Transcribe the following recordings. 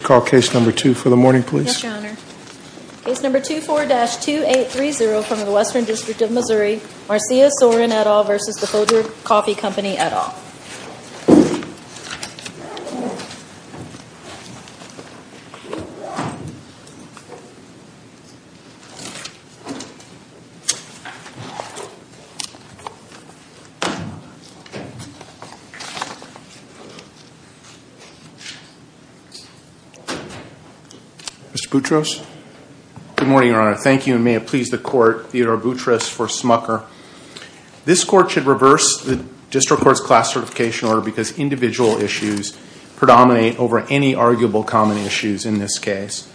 This case is under case number 2830 from the Western District of Missouri, Marcia Sorin et al vs. the Folger Coffee Company et al Mr. Boutros? Good morning, Your Honor. Thank you, and may it please the Court, Theodore Boutros for Smucker. This Court should reverse the District Court's Class Certification Order because individual issues predominate over any arguable common issues in this case.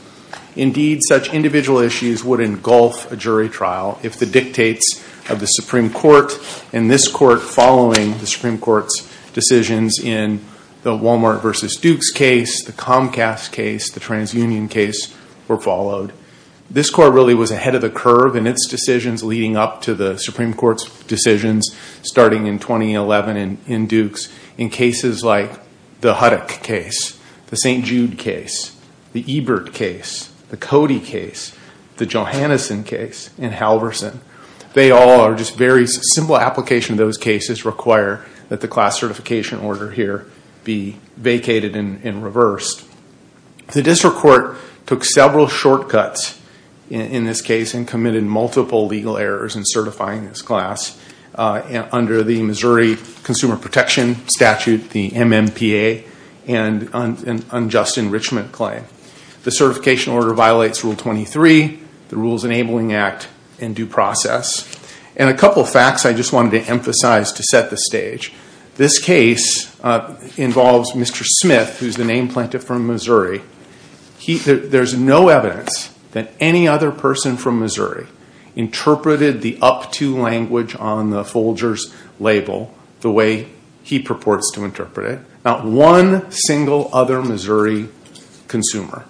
Indeed, such individual issues would engulf a jury trial if the dictates of the Supreme Court and this Court following the Supreme Court's decisions in the Walmart v. Dukes case, the Comcast case, the TransUnion case were followed. This Court really was ahead of the curve in its decisions leading up to the Supreme Court's decisions starting in 2011 in Dukes in cases like the Huddock case, the St. Jude case, the Ebert case, the Cody case, the Johanneson case, and Halverson. They all are just very simple applications of those cases require that the Class Certification Order here be vacated and reversed. The District Court took several shortcuts in this case and committed multiple legal errors in certifying this class under the Missouri Consumer Protection Statute, the MMPA, and an unjust enrichment claim. The certification order violates Rule 23, the Rules Enabling Act, and due process. A couple of facts I just wanted to emphasize to set the stage. This case involves Mr. Smith, who is the name planted from Missouri. There is no evidence that any other person from Missouri interpreted the up-to language on the Folgers label the way he purports to interpret it. Not one single other Missouri consumer.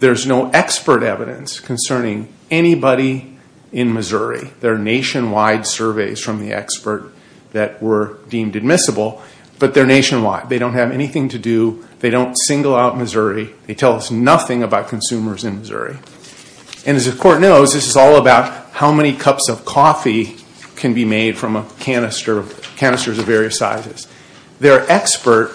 There's no expert evidence concerning anybody in Missouri. There are nationwide surveys from the expert that were deemed admissible, but they're nationwide. They don't have anything to do, they don't single out Missouri, they tell us nothing about consumers in Missouri. And as the Court knows, this is all about how many cups of coffee can be made from a canister, canisters of various sizes. Their expert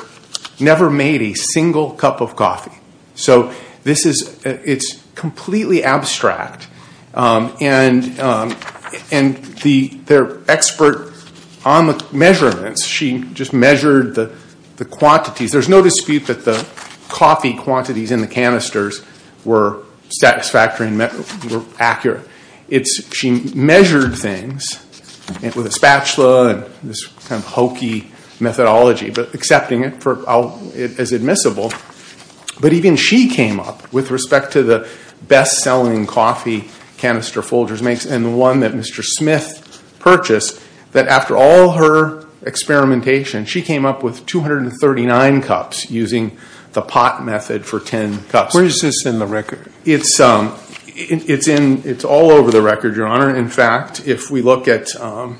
never made a single cup of coffee. So it's completely abstract. And their expert on the measurements, she just measured the quantities. There's no dispute that the coffee quantities in the canisters were satisfactory and accurate. She measured things with a spatula and this kind of hokey methodology, but accepting it as admissible. But even she came up with respect to the best-selling coffee canister Folgers makes and the one that Mr. Smith purchased, that after all her experimentation, she came up with 239 cups using the pot method for 10 cups. Where is this in the record? It's all over the record, Your Honor. In fact, if we look at the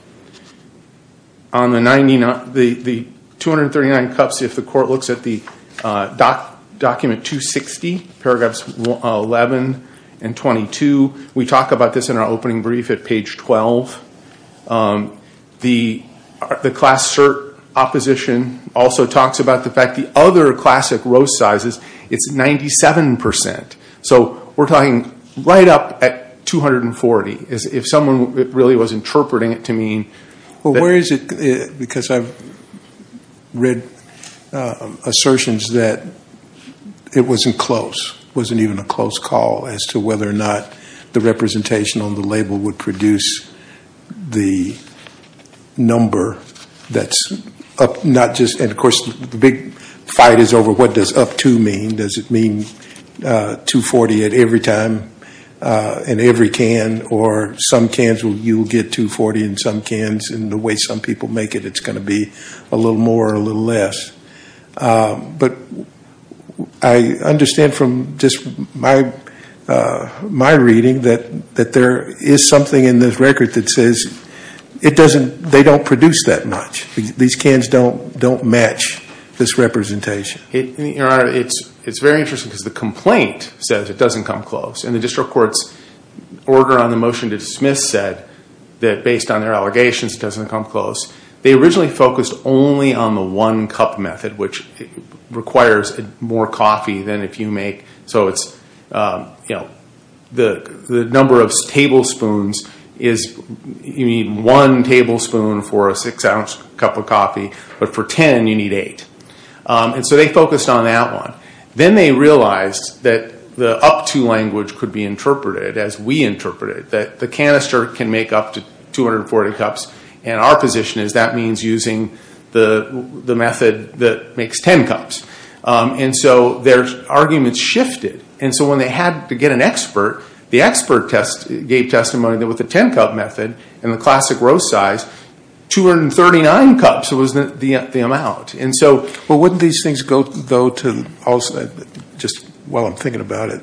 239 cups, if the Court looks at the document 260, paragraphs 11 and 22, we talk about this in our opening brief at page 12. The class cert opposition also talks about the fact the other classic roast sizes, it's 97 percent. So we're talking right up at 240. If someone really was interpreting it to mean that. Well, where is it? Because I've read assertions that it wasn't close, wasn't even a close call as to whether or not the representation on the label would produce the number that's up, not just. And of course, the big fight is over what does up to mean? Does it mean 240 at every time in every can or some cans you'll get 240 in some cans and the way some people make it, it's going to be a little more or a little less. But I understand from just my reading that there is something in this record that says it doesn't, they don't produce that much. These cans don't match this representation. Your Honor, it's very interesting because the complaint says it doesn't come close and the district court's order on the motion to dismiss said that based on their allegations it doesn't come close. They originally focused only on the one cup method, which requires more coffee than if you make. So it's the number of tablespoons is, you need one tablespoon for a six ounce cup of coffee, but for ten you need eight. And so they focused on that one. Then they realized that the up to language could be interpreted as we interpret it, that the canister can make up to 240 cups and our position is that means using the method that makes ten cups. And so their arguments shifted. And so when they had to get an expert, the expert gave testimony that with the ten cup method and the classic row size, 239 cups was the amount. And so wouldn't these things go to, just while I'm thinking about it,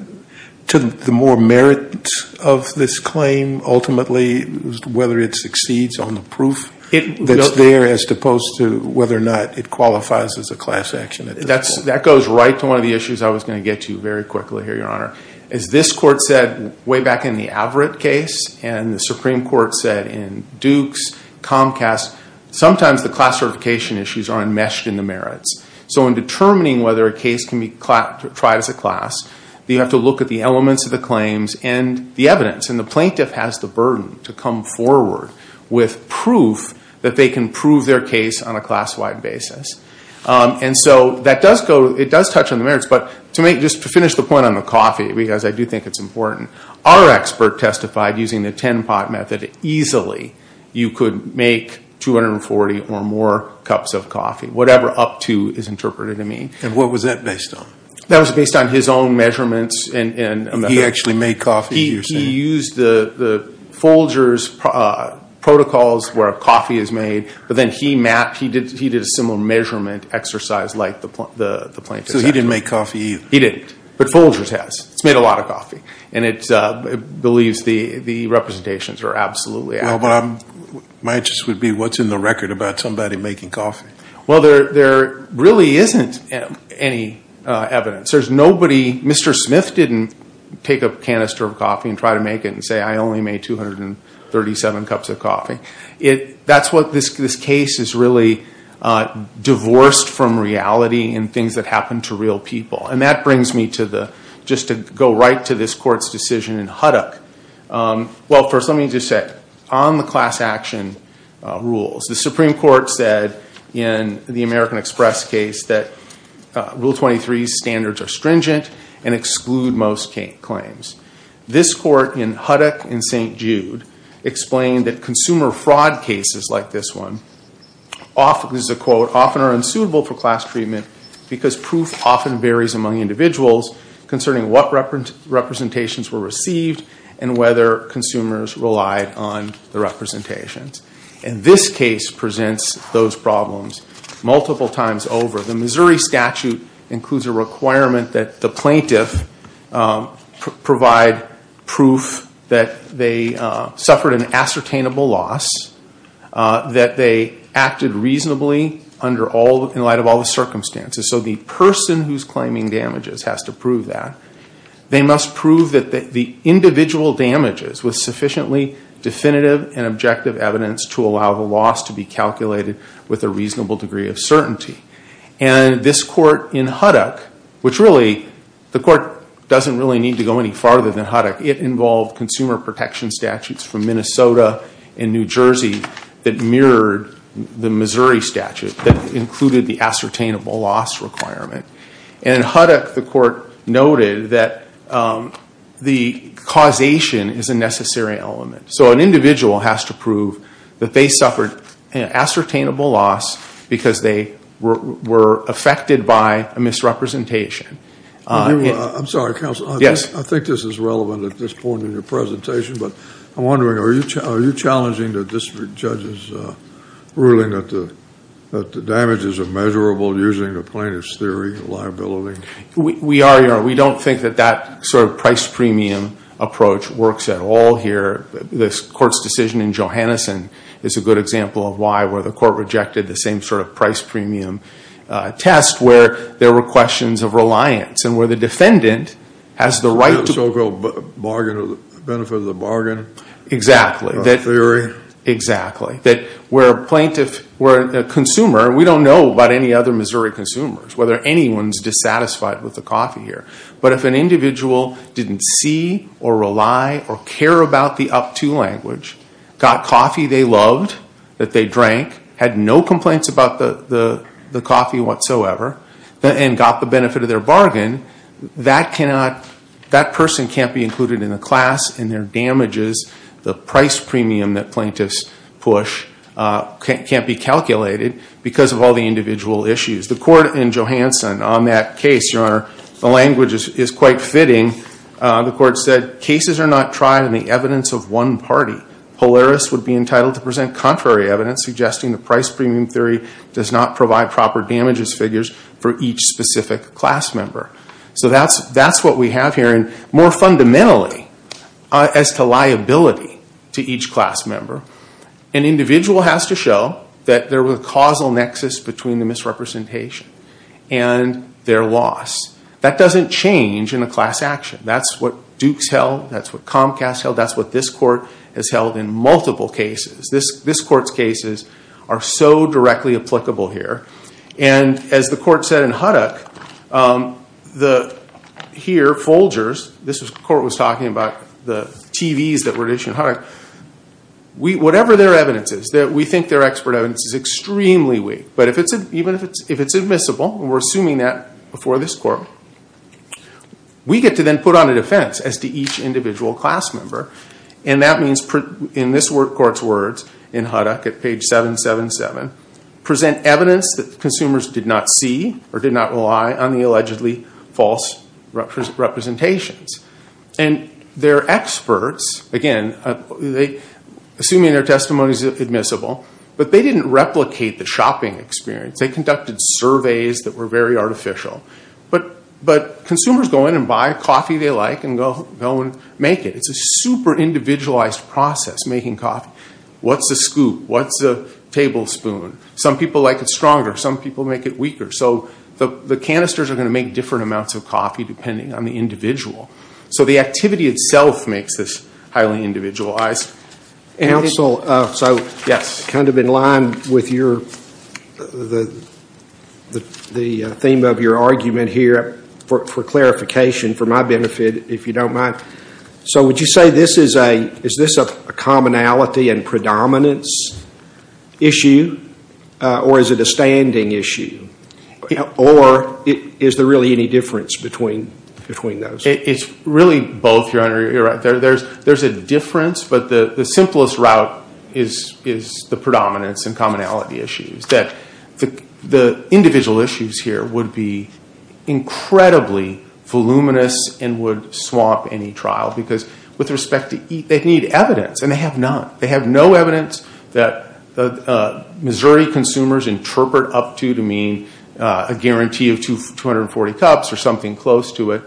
to the more merit of this claim ultimately whether it succeeds on the proof that's there as opposed to whether or not it qualifies as a class action. That goes right to one of the issues I was going to get to very quickly here, Your Honor. As this court said way back in the Averitt case and the Supreme Court said in Dukes, Comcast, sometimes the class certification issues aren't meshed in the merits. So in determining whether a case can be tried as a class, you have to look at the elements of the claims and the evidence. And the plaintiff has the burden to come forward with proof that they can prove their case on a class wide basis. And so that does go, it does touch on the merits. But to finish the point on the coffee, because I do think it's important, our expert testified using the ten pot method easily you could make 240 or more cups of coffee, whatever up to is interpreted to mean. And what was that based on? That was based on his own measurements. He actually made coffee, you're saying? He used the Folger's protocols where coffee is made. But then he mapped, he did a similar measurement exercise like the plaintiff. So he didn't make coffee either? He didn't. But Folger's has. It's made a lot of coffee. And it believes the representations are absolutely accurate. Well, my interest would be what's in the record about somebody making coffee? Well, there really isn't any evidence. There's nobody, Mr. Smith didn't take a canister of coffee and try to make it and say I only made 237 cups of coffee. That's what this case is really divorced from reality and things that happen to real people. And that brings me to the, just to go right to this court's decision in Huddock. Well, first let me just say, on the class action rules, the Supreme Court said in the American Express case that Rule 23's standards are stringent and exclude most claims. This court in Huddock and St. Jude explained that consumer fraud cases like this one, this is a quote, often are unsuitable for class treatment because proof often varies among individuals concerning what representations were received and whether consumers relied on the representations. And this case presents those problems multiple times over. The Missouri statute includes a requirement that the plaintiff provide proof that they suffered an ascertainable loss, that they acted reasonably in light of all the circumstances. So the person who's claiming damages has to prove that. They must prove that the individual damages with sufficiently definitive and objective evidence to allow the loss to be calculated with a reasonable degree of certainty. And this court in Huddock, which really, the court doesn't really need to go any farther than Huddock. It involved consumer protection statutes from Minnesota and New Jersey that mirrored the Missouri statute that included the ascertainable loss requirement. And in Huddock, the court noted that the causation is a necessary element. So an individual has to prove that they suffered an ascertainable loss because they were affected by a misrepresentation. I'm sorry, counsel. Yes. I think this is relevant at this point in your presentation, but I'm wondering are you challenging the district judge's ruling that the damages are measurable using the plaintiff's theory of liability? We are. We don't think that that sort of price premium approach works at all here. The court's decision in Johanneson is a good example of why, where the court rejected the same sort of price premium test, where there were questions of reliance and where the defendant has the right to... The so-called benefit of the bargain. Exactly. Theory. That where a consumer, we don't know about any other Missouri consumers whether anyone is dissatisfied with the coffee here. But if an individual didn't see or rely or care about the up-to language, got coffee they loved, that they drank, had no complaints about the coffee whatsoever, and got the benefit of their bargain, that person can't be included in the class and their damages, the price premium that plaintiffs push, can't be calculated because of all the individual issues. The court in Johanneson on that case, Your Honor, the language is quite fitting. The court said, Cases are not tried in the evidence of one party. Polaris would be entitled to present contrary evidence suggesting the price premium theory does not provide proper damages figures for each specific class member. So that's what we have here. More fundamentally, as to liability to each class member, an individual has to show that there was a causal nexus between the misrepresentation and their loss. That doesn't change in a class action. That's what Dukes held. That's what Comcast held. That's what this court has held in multiple cases. This court's cases are so directly applicable here. And as the court said in Huddock, here Folgers, the court was talking about the TVs that were issued in Huddock, whatever their evidence is, that we think their expert evidence is extremely weak. But even if it's admissible, and we're assuming that before this court, we get to then put on a defense as to each individual class member. And that means, in this court's words in Huddock at page 777, present evidence that consumers did not see or did not rely on the allegedly false representations. And their experts, again, assuming their testimony is admissible, but they didn't replicate the shopping experience. They conducted surveys that were very artificial. But consumers go in and buy a coffee they like and go and make it. It's a super individualized process, making coffee. What's a scoop? What's a tablespoon? Some people like it stronger. Some people make it weaker. So the canisters are going to make different amounts of coffee depending on the individual. So the activity itself makes this highly individualized. Counsel, so kind of in line with the theme of your argument here, for clarification, for my benefit, if you don't mind. So would you say this is a commonality and predominance issue? Or is it a standing issue? Or is there really any difference between those? It's really both, Your Honor. There's a difference, but the simplest route is the predominance and commonality issues. The individual issues here would be incredibly voluminous and would swamp any trial. Because they need evidence, and they have none. They have no evidence that Missouri consumers interpret up to to mean a guarantee of 240 cups or something close to it.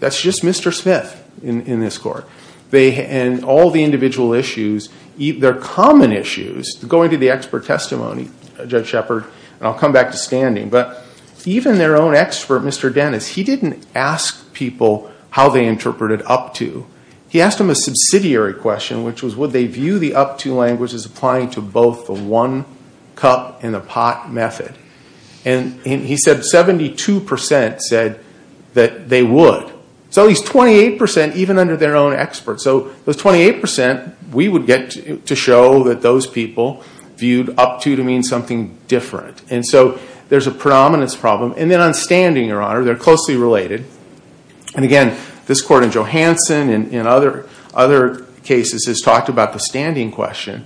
That's just Mr. Smith in this court. And all the individual issues, their common issues, going to the expert testimony, Judge Shepard, and I'll come back to standing. But even their own expert, Mr. Dennis, he didn't ask people how they interpreted up to. He asked them a subsidiary question, which was would they view the up to language as applying to both the one-cup-in-the-pot method. And he said 72% said that they would. So he's 28% even under their own expert. So those 28%, we would get to show that those people viewed up to to mean something different. And so there's a predominance problem. And then on standing, Your Honor, they're closely related. And again, this court in Johansson and other cases has talked about the standing question.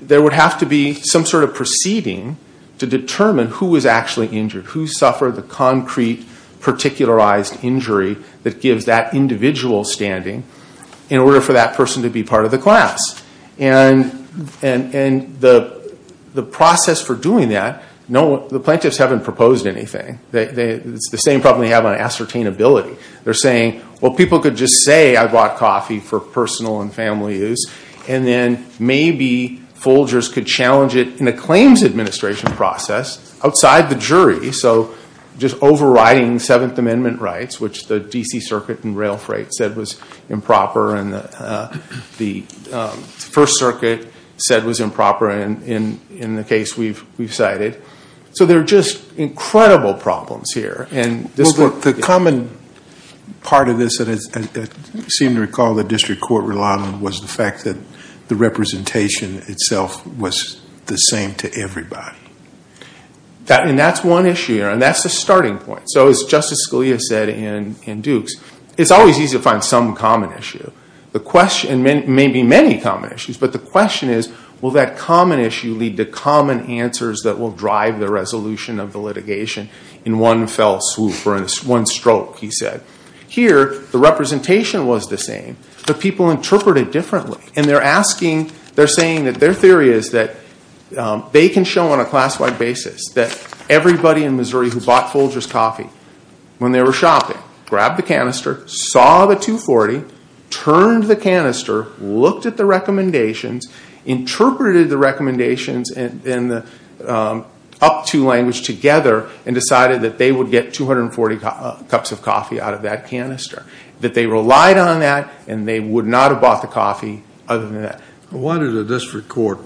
There would have to be some sort of proceeding to determine who was actually injured, who suffered the concrete particularized injury that gives that individual standing in order for that person to be part of the class. And the process for doing that, the plaintiffs haven't proposed anything. It's the same problem they have on ascertainability. They're saying, well, people could just say I bought coffee for personal and family use. And then maybe Folgers could challenge it in a claims administration process outside the jury. So just overriding Seventh Amendment rights, which the DC Circuit and rail freight said was improper and the First Circuit said was improper in the case we've cited. So there are just incredible problems here. The common part of this that I seem to recall the district court relied on was the fact that the representation itself was the same to everybody. And that's one issue, Your Honor. And that's the starting point. So as Justice Scalia said in Dukes, it's always easy to find some common issue. And maybe many common issues. But the question is, will that common issue lead to common answers that will drive the resolution of the litigation in one fell swoop or in one stroke, he said. Here, the representation was the same, but people interpret it differently. And they're saying that their theory is that they can show on a class-wide basis that everybody in Missouri who bought Folgers coffee when they were shopping grabbed the canister, saw the $2.40, turned the canister, looked at the recommendations, interpreted the recommendations in the up-to language together, and decided that they would get 240 cups of coffee out of that canister. That they relied on that, and they would not have bought the coffee other than that. Why did the district court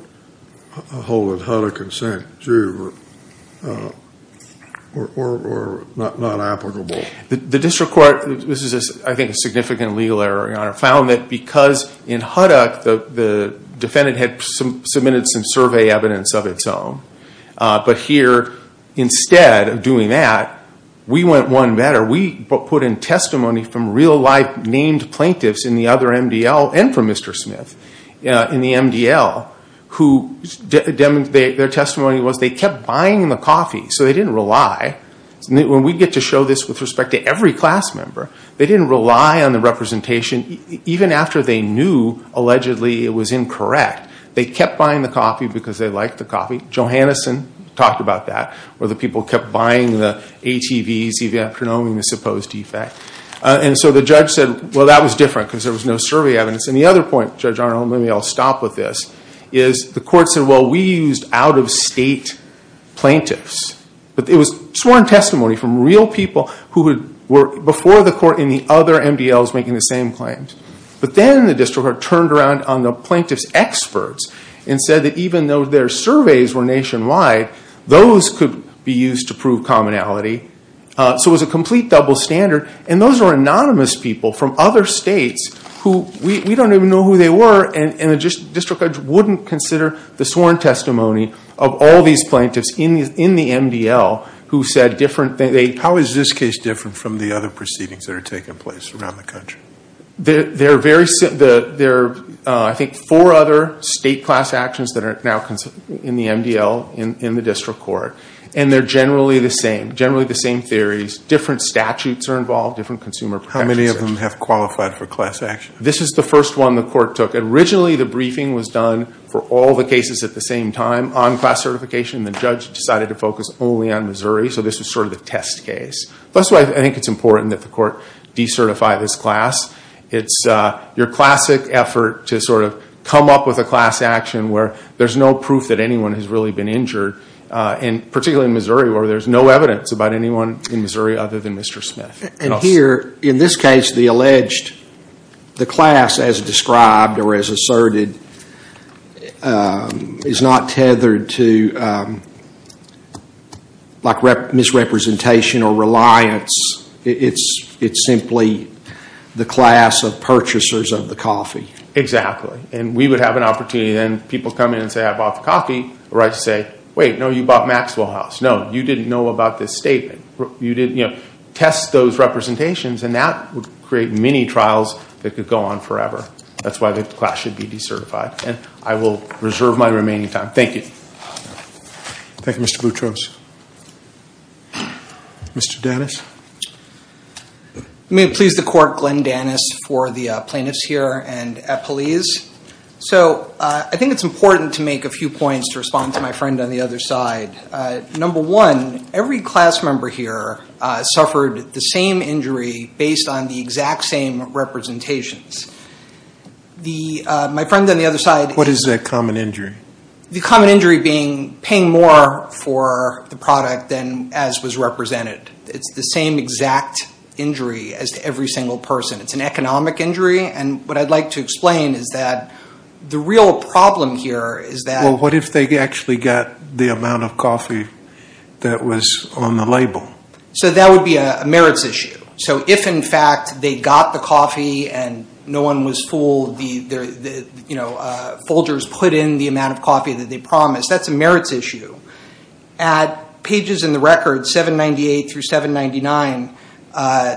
hold that Hutter Consent, too, or not applicable? The district court, this is, I think, a significant legal error, Your Honor, found that because in Huddock, the defendant had submitted some survey evidence of its own. But here, instead of doing that, we went one better. We put in testimony from real-life named plaintiffs in the other MDL, and from Mr. Smith in the MDL, their testimony was they kept buying the coffee, so they didn't rely. When we get to show this with respect to every class member, they didn't rely on the representation, even after they knew, allegedly, it was incorrect. They kept buying the coffee because they liked the coffee. Johanneson talked about that, where the people kept buying the ATVs, even after knowing the supposed defect. And so the judge said, well, that was different, because there was no survey evidence. And the other point, Judge Arnold, and maybe I'll stop with this, is the court said, well, we used out-of-state plaintiffs. But it was sworn testimony from real people who were before the court in the other MDLs making the same claims. But then the district court turned around on the plaintiff's experts and said that even though their surveys were nationwide, those could be used to prove commonality. So it was a complete double standard. And those were anonymous people from other states who we don't even know who they were. And the district court wouldn't consider the sworn testimony of all these plaintiffs in the MDL who said different things. How is this case different from the other proceedings that are taking place around the country? There are, I think, four other state class actions that are now in the MDL in the district court. And they're generally the same. Generally the same theories. Different statutes are involved. Different consumer protections. How many of them have qualified for class action? This is the first one the court took. Originally the briefing was done for all the cases at the same time on class certification. The judge decided to focus only on Missouri. So this was sort of the test case. That's why I think it's important that the court decertify this class. It's your classic effort to sort of come up with a class action where there's no proof that anyone has really been injured, particularly in Missouri, where there's no evidence about anyone in Missouri other than Mr. Smith. And here, in this case, the alleged, the class as described or as asserted is not tethered to misrepresentation or reliance. It's simply the class of purchasers of the coffee. Exactly. And we would have an opportunity and people would come in and say, I bought the coffee. Or I'd say, wait, no, you bought Maxwell House. No, you didn't know about this statement. Test those representations and that would create many trials that could go on forever. That's why the class should be decertified. And I will reserve my remaining time. Thank you. Thank you, Mr. Boutros. Mr. Danis. May it please the court, Glenn Danis, for the plaintiffs here and at police. So I think it's important to make a few points to respond to my friend on the other side. Number one, every class member here suffered the same injury based on the exact same representations. My friend on the other side... What is that common injury? The common injury being paying more for the product than as was represented. It's the same exact injury as to every single person. It's an economic injury. And what I'd like to explain is that the real problem here is that... Well, what if they actually got the amount of coffee that was on the label? So that would be a merits issue. So if, in fact, they got the coffee and no one was fooled, Folgers put in the amount of coffee that they promised, that's a merits issue. At pages in the record, 798 through 799,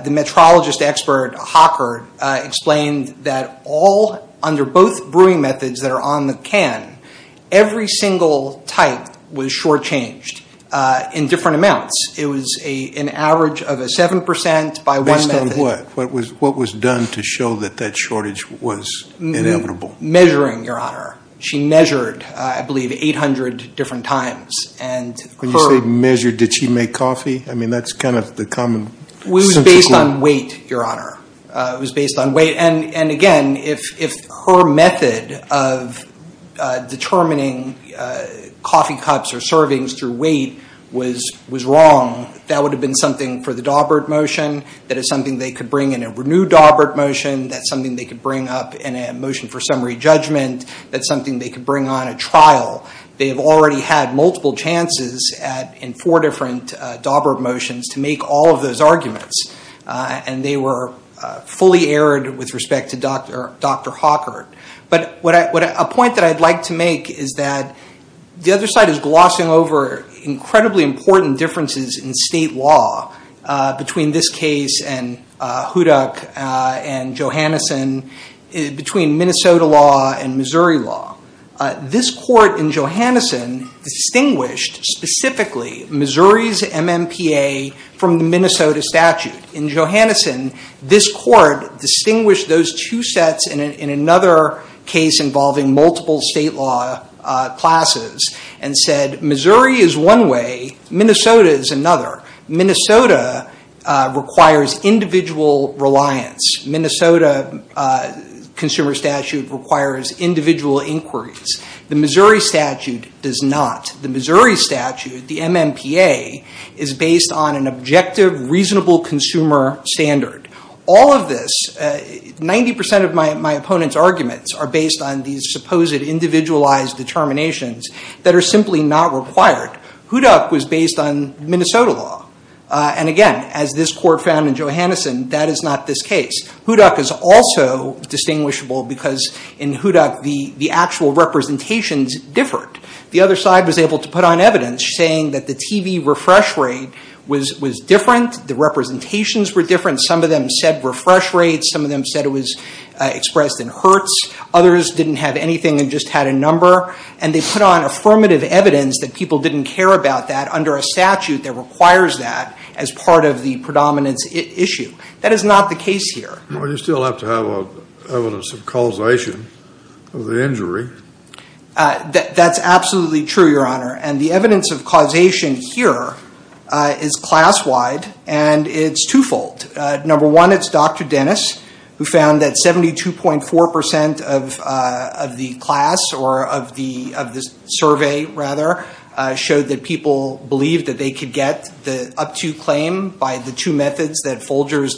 the metrologist expert, Hocker, explained that all... For both brewing methods that are on the can, every single type was shortchanged in different amounts. It was an average of a 7% by one method. Based on what? What was done to show that that shortage was inevitable? Measuring, Your Honor. She measured, I believe, 800 different times. When you say measured, did she make coffee? I mean, that's kind of the common... It was based on weight, Your Honor. It was based on weight. And, again, if her method of determining coffee cups or servings through weight was wrong, that would have been something for the Daubert motion. That is something they could bring in a renewed Daubert motion. That's something they could bring up in a motion for summary judgment. That's something they could bring on a trial. They have already had multiple chances in four different Daubert motions to make all of those arguments. And they were fully aired with respect to Dr. Hawker. But a point that I'd like to make is that the other side is glossing over incredibly important differences in state law between this case and Hudak and Johanneson, between Minnesota law and Missouri law. This court in Johanneson distinguished specifically Missouri's MMPA from the Minnesota statute. In Johanneson, this court distinguished those two sets in another case involving multiple state law classes and said, Missouri is one way. Minnesota is another. Minnesota requires individual reliance. Minnesota consumer statute requires individual inquiries. The Missouri statute does not. The Missouri statute, the MMPA, is based on an objective, reasonable consumer standard. All of this, 90% of my opponent's arguments are based on these supposed individualized determinations that are simply not required. Hudak was based on Minnesota law. And again, as this court found in Johanneson, that is not this case. Hudak is also distinguishable because in Hudak the actual representations differed. The other side was able to put on evidence saying that the TV refresh rate was different. The representations were different. Some of them said refresh rates. Some of them said it was expressed in hertz. Others didn't have anything and just had a number. And they put on affirmative evidence that people didn't care about that under a statute that requires that as part of the predominance issue. That is not the case here. Well, you still have to have evidence of causation of the injury. That's absolutely true, Your Honor. And the evidence of causation here is class-wide. And it's twofold. Number one, it's Dr. Dennis, who found that 72.4% of the class or of the survey, rather, showed that people believed that they could get the up-to claim by the two methods that Folgers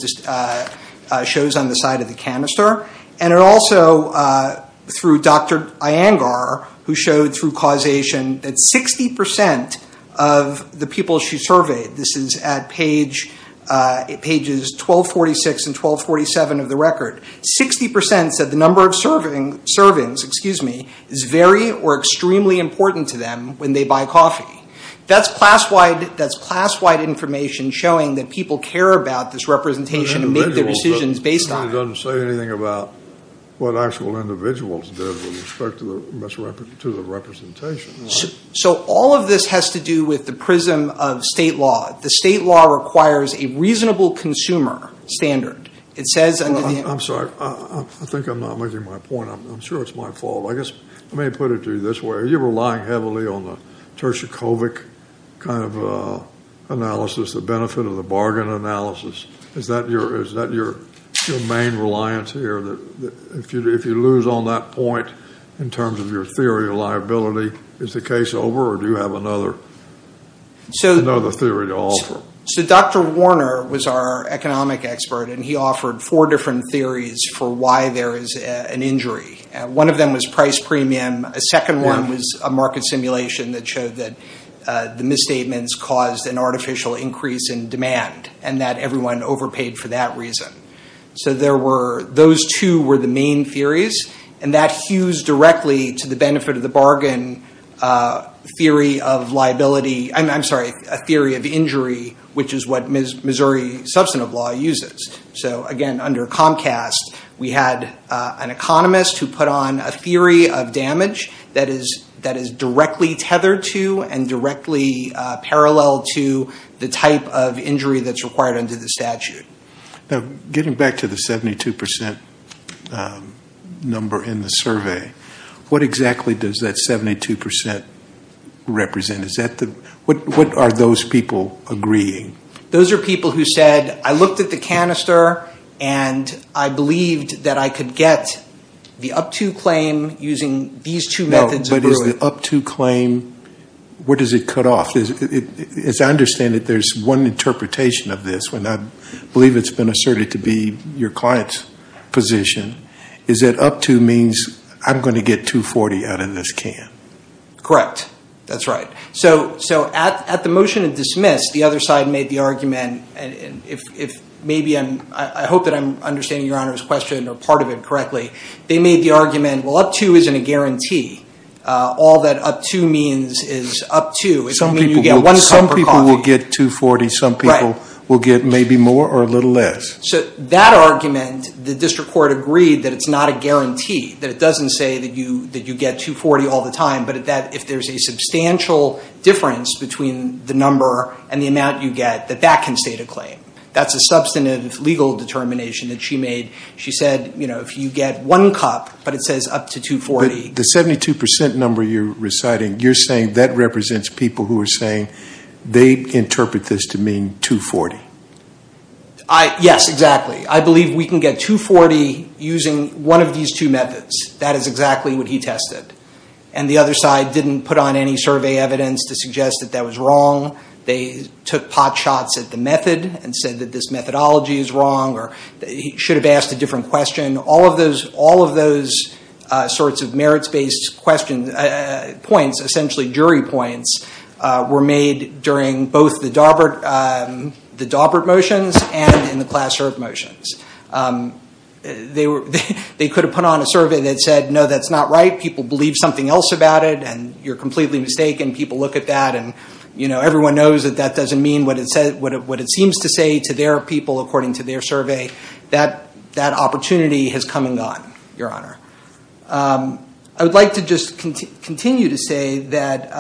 shows on the side of the canister. And it also, through Dr. Iyengar, who showed through causation that 60% of the people she surveyed, this is at pages 1246 and 1247 of the record, 60% said the number of servings is very or extremely important to them when they buy coffee. That's class-wide information showing that people care about this representation and make their decisions based on it. It doesn't say anything about what actual individuals did with respect to the representation. So all of this has to do with the prism of state law. The state law requires a reasonable consumer standard. I'm sorry. I think I'm not making my point. I'm sure it's my fault. Let me put it to you this way. Are you relying heavily on the Turchikovic kind of analysis, the benefit of the bargain analysis? Is that your main reliance here? If you lose on that point in terms of your theory of liability, is the case over, or do you have another theory to offer? So Dr. Warner was our economic expert, and he offered four different theories for why there is an injury. One of them was price premium. A second one was a market simulation that showed that the misstatements caused an artificial increase in demand and that everyone overpaid for that reason. So those two were the main theories, and that hues directly to the benefit of the bargain theory of liability. I'm sorry, a theory of injury, which is what Missouri substantive law uses. So, again, under Comcast, we had an economist who put on a theory of damage that is directly tethered to and directly parallel to the type of injury that's required under the statute. Now, getting back to the 72% number in the survey, what exactly does that 72% represent? What are those people agreeing? Those are people who said, I looked at the canister and I believed that I could get the up-to claim using these two methods of brewing. But is the up-to claim, where does it cut off? As I understand it, there's one interpretation of this. And I believe it's been asserted to be your client's position, is that up-to means I'm going to get $240 out of this can. Correct. That's right. So at the motion of dismiss, the other side made the argument, and I hope that I'm understanding Your Honor's question or part of it correctly. They made the argument, well, up-to isn't a guarantee. All that up-to means is up-to. Some people will get $240. Some people will get maybe more or a little less. So that argument, the district court agreed that it's not a guarantee, that it doesn't say that you get $240 all the time. But if there's a substantial difference between the number and the amount you get, that that can state a claim. That's a substantive legal determination that she made. She said, you know, if you get one cup but it says up-to $240. But the 72% number you're reciting, you're saying that represents people who are saying they interpret this to mean $240. Yes, exactly. I believe we can get $240 using one of these two methods. That is exactly what he tested. And the other side didn't put on any survey evidence to suggest that that was wrong. They took pot shots at the method and said that this methodology is wrong or he should have asked a different question. All of those sorts of merits-based points, essentially jury points, were made during both the Daubert motions and in the Klass-Herb motions. They could have put on a survey that said, no, that's not right. People believe something else about it and you're completely mistaken. People look at that and everyone knows that that doesn't mean what it seems to say to their people, according to their survey. That opportunity has come and gone, Your Honor. I would like to just continue to say that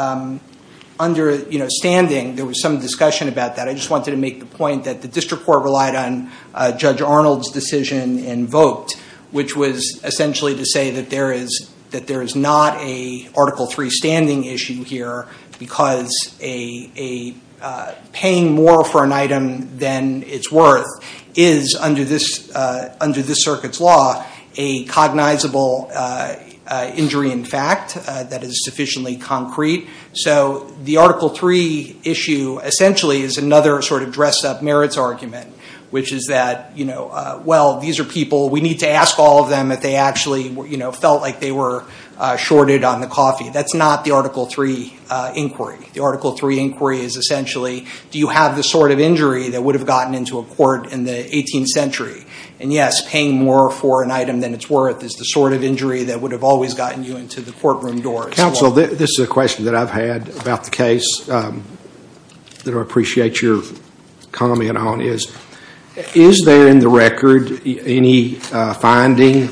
under standing, there was some discussion about that. I just wanted to make the point that the district court relied on Judge Arnold's decision and vote, which was essentially to say that there is not an Article III standing issue here because paying more for an item than it's worth is, under this circuit's law, a cognizable injury in fact that is sufficiently concrete. So the Article III issue essentially is another sort of dress-up merits argument, which is that, well, these are people, we need to ask all of them if they actually felt like they were shorted on the coffee. That's not the Article III inquiry. The Article III inquiry is essentially, do you have the sort of injury that would have gotten into a court in the 18th century? And, yes, paying more for an item than it's worth is the sort of injury that would have always gotten you into the courtroom doors. Counsel, this is a question that I've had about the case that I appreciate your comment on. Is there, in the record, any finding,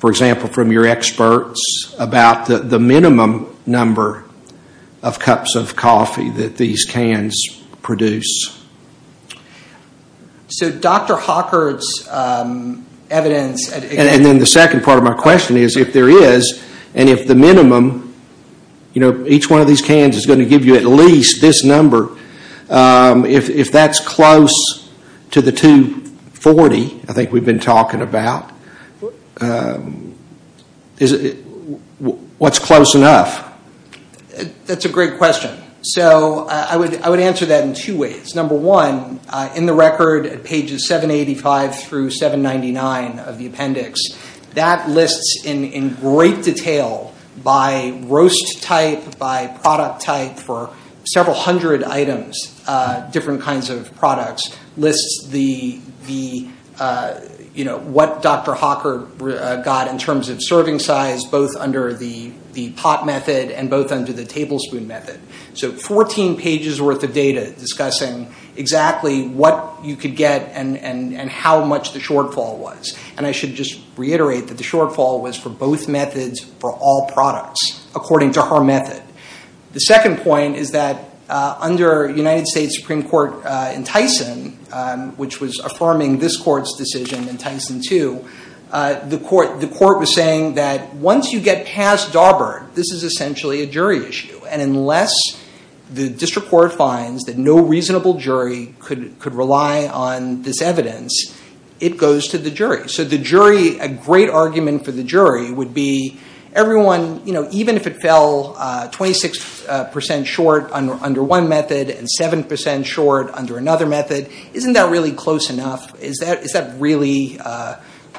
for example, from your experts, about the minimum number of cups of coffee that these cans produce? So Dr. Hawkard's evidence— And then the second part of my question is, if there is, and if the minimum, you know, each one of these cans is going to give you at least this number, if that's close to the 240 I think we've been talking about, what's close enough? That's a great question. So I would answer that in two ways. Number one, in the record at pages 785 through 799 of the appendix, that lists in great detail by roast type, by product type, for several hundred items, different kinds of products, lists the, you know, what Dr. Hawkard got in terms of serving size, both under the pot method and both under the tablespoon method. So 14 pages' worth of data discussing exactly what you could get and how much the shortfall was. And I should just reiterate that the shortfall was for both methods for all products, according to her method. The second point is that under United States Supreme Court in Tyson, which was affirming this court's decision in Tyson 2, the court was saying that once you get past Darburg, this is essentially a jury issue. And unless the district court finds that no reasonable jury could rely on this evidence, it goes to the jury. So the jury, a great argument for the jury would be everyone, you know, even if it fell 26% short under one method and 7% short under another method, isn't that really close enough? Is that really,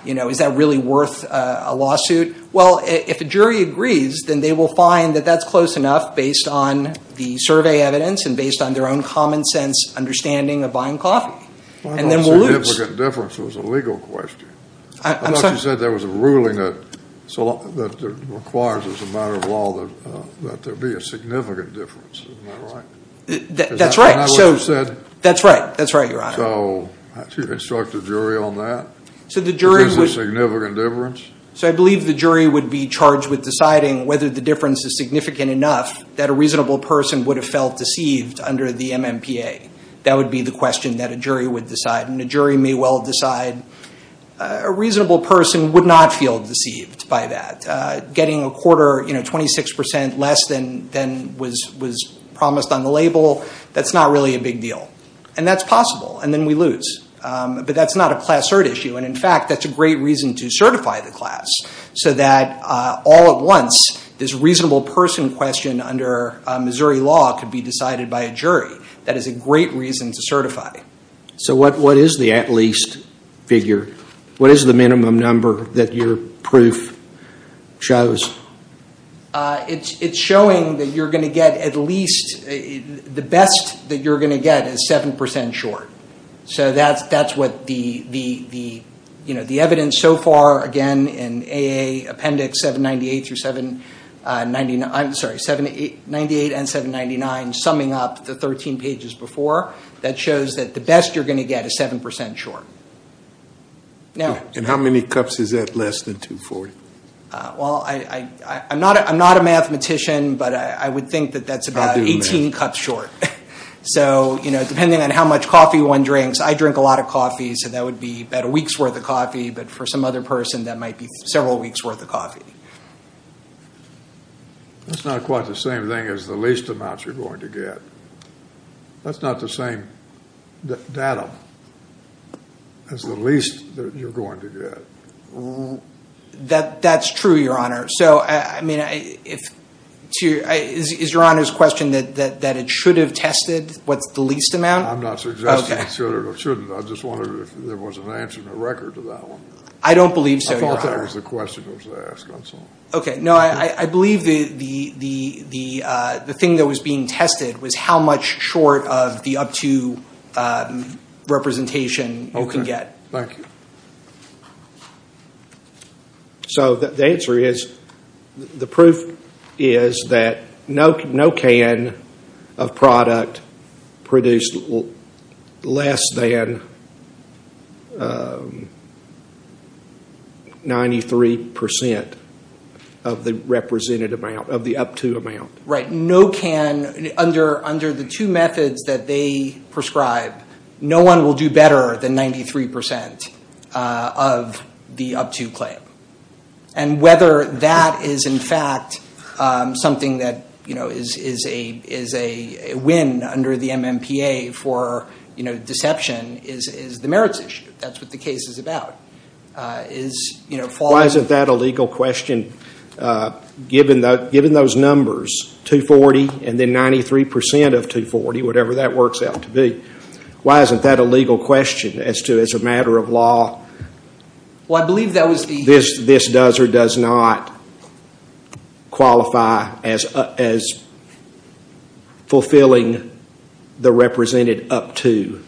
you know, is that really worth a lawsuit? Well, if a jury agrees, then they will find that that's close enough based on the survey evidence and based on their own common sense understanding of buying coffee. And then we'll lose. Well, I thought significant difference was a legal question. I'm sorry? I thought you said there was a ruling that requires as a matter of law that there be a significant difference. Isn't that right? That's right. Isn't that what you said? That's right. That's right, Your Honor. So should you instruct the jury on that? So the jury would. Is there a significant difference? So I believe the jury would be charged with deciding whether the difference is significant enough that a reasonable person would have felt deceived under the MMPA. That would be the question that a jury would decide. And a jury may well decide a reasonable person would not feel deceived by that. Getting a quarter, you know, 26% less than was promised on the label, that's not really a big deal. And that's possible. And then we lose. But that's not a class-third issue. And, in fact, that's a great reason to certify the class so that all at once this reasonable person question under Missouri law could be decided by a jury. That is a great reason to certify. So what is the at least figure? What is the minimum number that your proof shows? It's showing that you're going to get at least, the best that you're going to get is 7% short. So that's what the evidence so far, again, in AA Appendix 798 through 799, I'm sorry, 798 and 799, summing up the 13 pages before, that shows that the best you're going to get is 7% short. And how many cups is that less than 240? Well, I'm not a mathematician, but I would think that that's about 18 cups short. So, you know, depending on how much coffee one drinks, I drink a lot of coffee, so that would be about a week's worth of coffee. But for some other person, that might be several weeks' worth of coffee. That's not quite the same thing as the least amounts you're going to get. That's not the same datum as the least that you're going to get. That's true, Your Honor. So, I mean, is Your Honor's question that it should have tested what's the least amount? I'm not suggesting it should or shouldn't. I just wondered if there was an answer in the record to that one. I don't believe so, Your Honor. I thought that was the question I was going to ask. Okay, no, I believe the thing that was being tested was how much short of the up to representation you can get. Okay, thank you. So the answer is, the proof is that no can of product produced less than 93% of the represented amount, of the up to amount. Right. Under the two methods that they prescribe, no one will do better than 93% of the up to claim. And whether that is, in fact, something that is a win under the MMPA for deception is the merits issue. That's what the case is about. Why isn't that a legal question given those numbers, 240 and then 93% of 240, whatever that works out to be? Why isn't that a legal question as to, as a matter of law, this does or does not qualify as fulfilling the represented up to?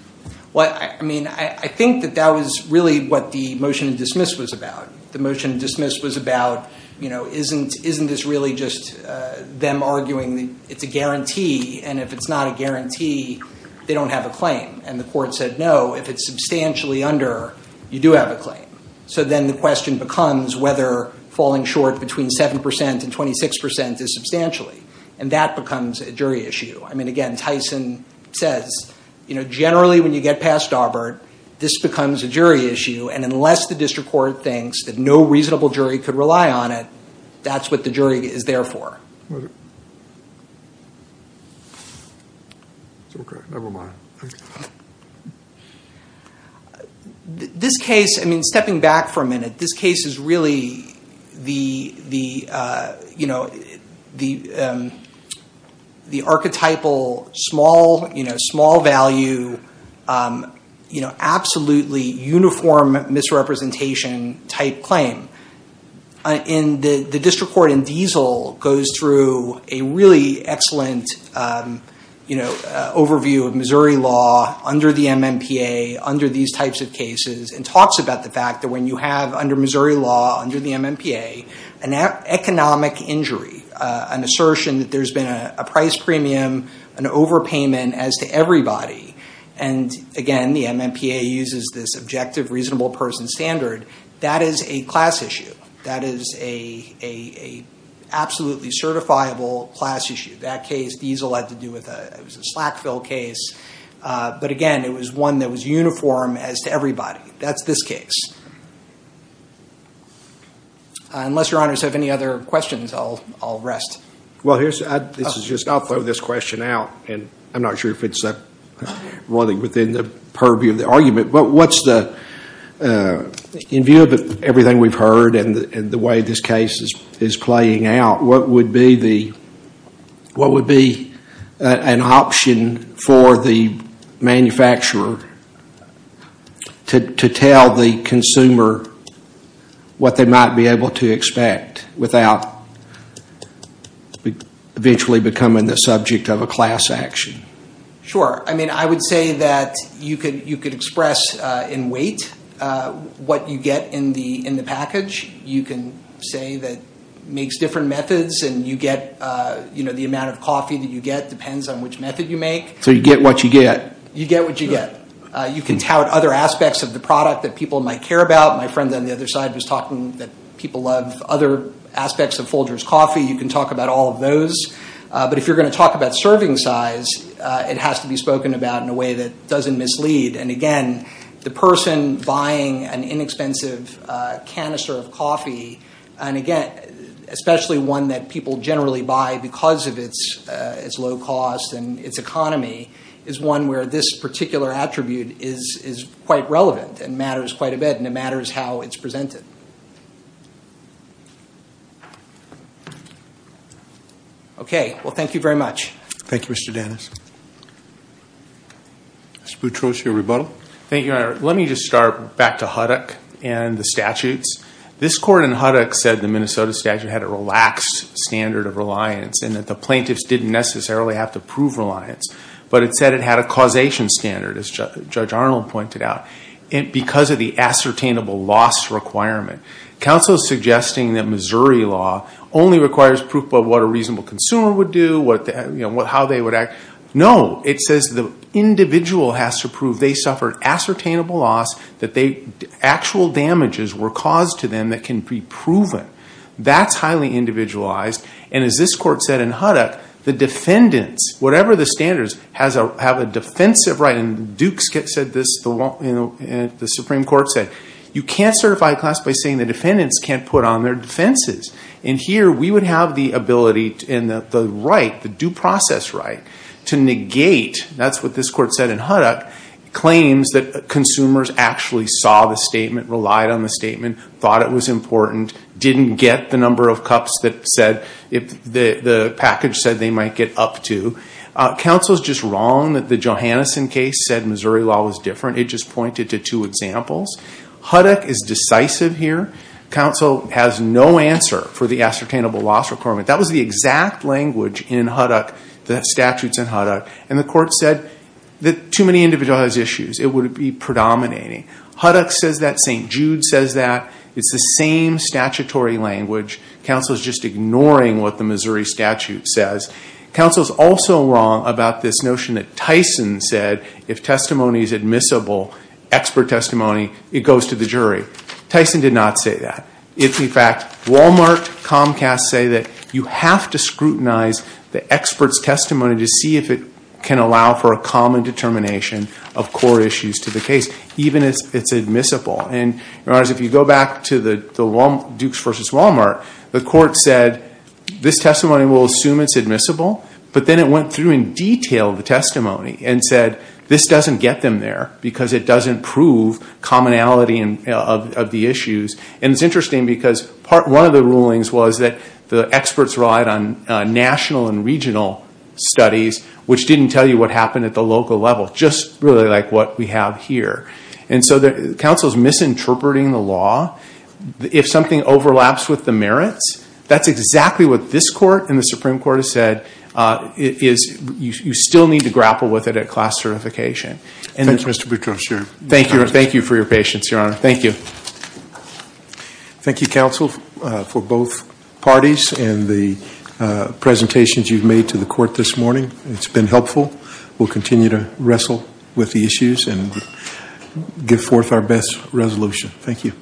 Well, I mean, I think that that was really what the motion of dismiss was about. The motion of dismiss was about, you know, isn't this really just them arguing it's a guarantee? And if it's not a guarantee, they don't have a claim. And the court said, no, if it's substantially under, you do have a claim. So then the question becomes whether falling short between 7% and 26% is substantially. And that becomes a jury issue. I mean, again, Tyson says, you know, generally when you get past Darbert, this becomes a jury issue. And unless the district court thinks that no reasonable jury could rely on it, that's what the jury is there for. Never mind. This case, I mean, stepping back for a minute, this case is really the, you know, the archetypal small, you know, small value, you know, absolutely uniform misrepresentation type claim. And the district court in Diesel goes through a really excellent, you know, overview of Missouri law under the MMPA, under these types of cases and talks about the fact that when you have under Missouri law, under the MMPA, an economic injury, an assertion that there's been a price premium, an overpayment as to everybody. And again, the MMPA uses this objective reasonable person standard. That is a class issue. That is a absolutely certifiable class issue. That case, Diesel, had to do with a, it was a Slackville case. But again, it was one that was uniform as to everybody. That's this case. Unless your honors have any other questions, I'll rest. Well, here's, this is just, I'll throw this question out. And I'm not sure if it's running within the purview of the argument. But what's the, in view of everything we've heard and the way this case is playing out, what would be the, what would be an option for the manufacturer to tell the consumer what they might be able to expect without eventually becoming the subject of a class action? Sure. I mean, I would say that you could express in weight what you get in the package. You can say that it makes different methods and you get, you know, the amount of coffee that you get depends on which method you make. So you get what you get. You get what you get. You can tout other aspects of the product that people might care about. My friend on the other side was talking that people love other aspects of Folgers Coffee. You can talk about all of those. But if you're going to talk about serving size, it has to be spoken about in a way that doesn't mislead. And, again, the person buying an inexpensive canister of coffee, and, again, especially one that people generally buy because of its low cost and its economy, is one where this particular attribute is quite relevant and matters quite a bit. And it matters how it's presented. Okay. Well, thank you very much. Thank you, Mr. Dennis. Mr. Boutrous, your rebuttal. Thank you, Your Honor. Let me just start back to Huddock and the statutes. This court in Huddock said the Minnesota statute had a relaxed standard of reliance and that the plaintiffs didn't necessarily have to prove reliance. But it said it had a causation standard, as Judge Arnold pointed out, because of the ascertainable loss requirement. Counsel is suggesting that Missouri law only requires proof of what a reasonable consumer would do, how they would act. No. It says the individual has to prove they suffered ascertainable loss, that actual damages were caused to them that can be proven. That's highly individualized. And as this court said in Huddock, the defendants, whatever the standards, have a defensive right. And Dukes said this, the Supreme Court said, you can't certify a class by saying the defendants can't put on their defenses. And here we would have the ability and the right, the due process right, to negate, that's what this court said in Huddock, claims that consumers actually saw the statement, relied on the statement, thought it was important, didn't get the number of cups that said, the package said they might get up to. Counsel is just wrong that the Johanneson case said Missouri law was different. It just pointed to two examples. Huddock is decisive here. Counsel has no answer for the ascertainable loss requirement. That was the exact language in Huddock, the statutes in Huddock. And the court said that too many individuals have issues. It would be predominating. Huddock says that, St. Jude says that. It's the same statutory language. Counsel is just ignoring what the Missouri statute says. Counsel is also wrong about this notion that Tyson said, if testimony is admissible, expert testimony, it goes to the jury. Tyson did not say that. In fact, Walmart, Comcast say that you have to scrutinize the expert's testimony to see if it can allow for a common determination of core issues to the case. Even if it's admissible. And if you go back to the Dukes v. Walmart, the court said, this testimony will assume it's admissible. But then it went through in detail the testimony and said, this doesn't get them there because it doesn't prove commonality of the issues. And it's interesting because one of the rulings was that the experts relied on national and regional studies, which didn't tell you what happened at the local level. Just really like what we have here. Counsel is misinterpreting the law. If something overlaps with the merits, that's exactly what this court and the Supreme Court has said. You still need to grapple with it at class certification. Thank you for your patience, Your Honor. Thank you. Thank you, Counsel, for both parties and the presentations you've made to the court this morning. It's been helpful. We'll continue to wrestle with the issues and give forth our best resolution. Thank you.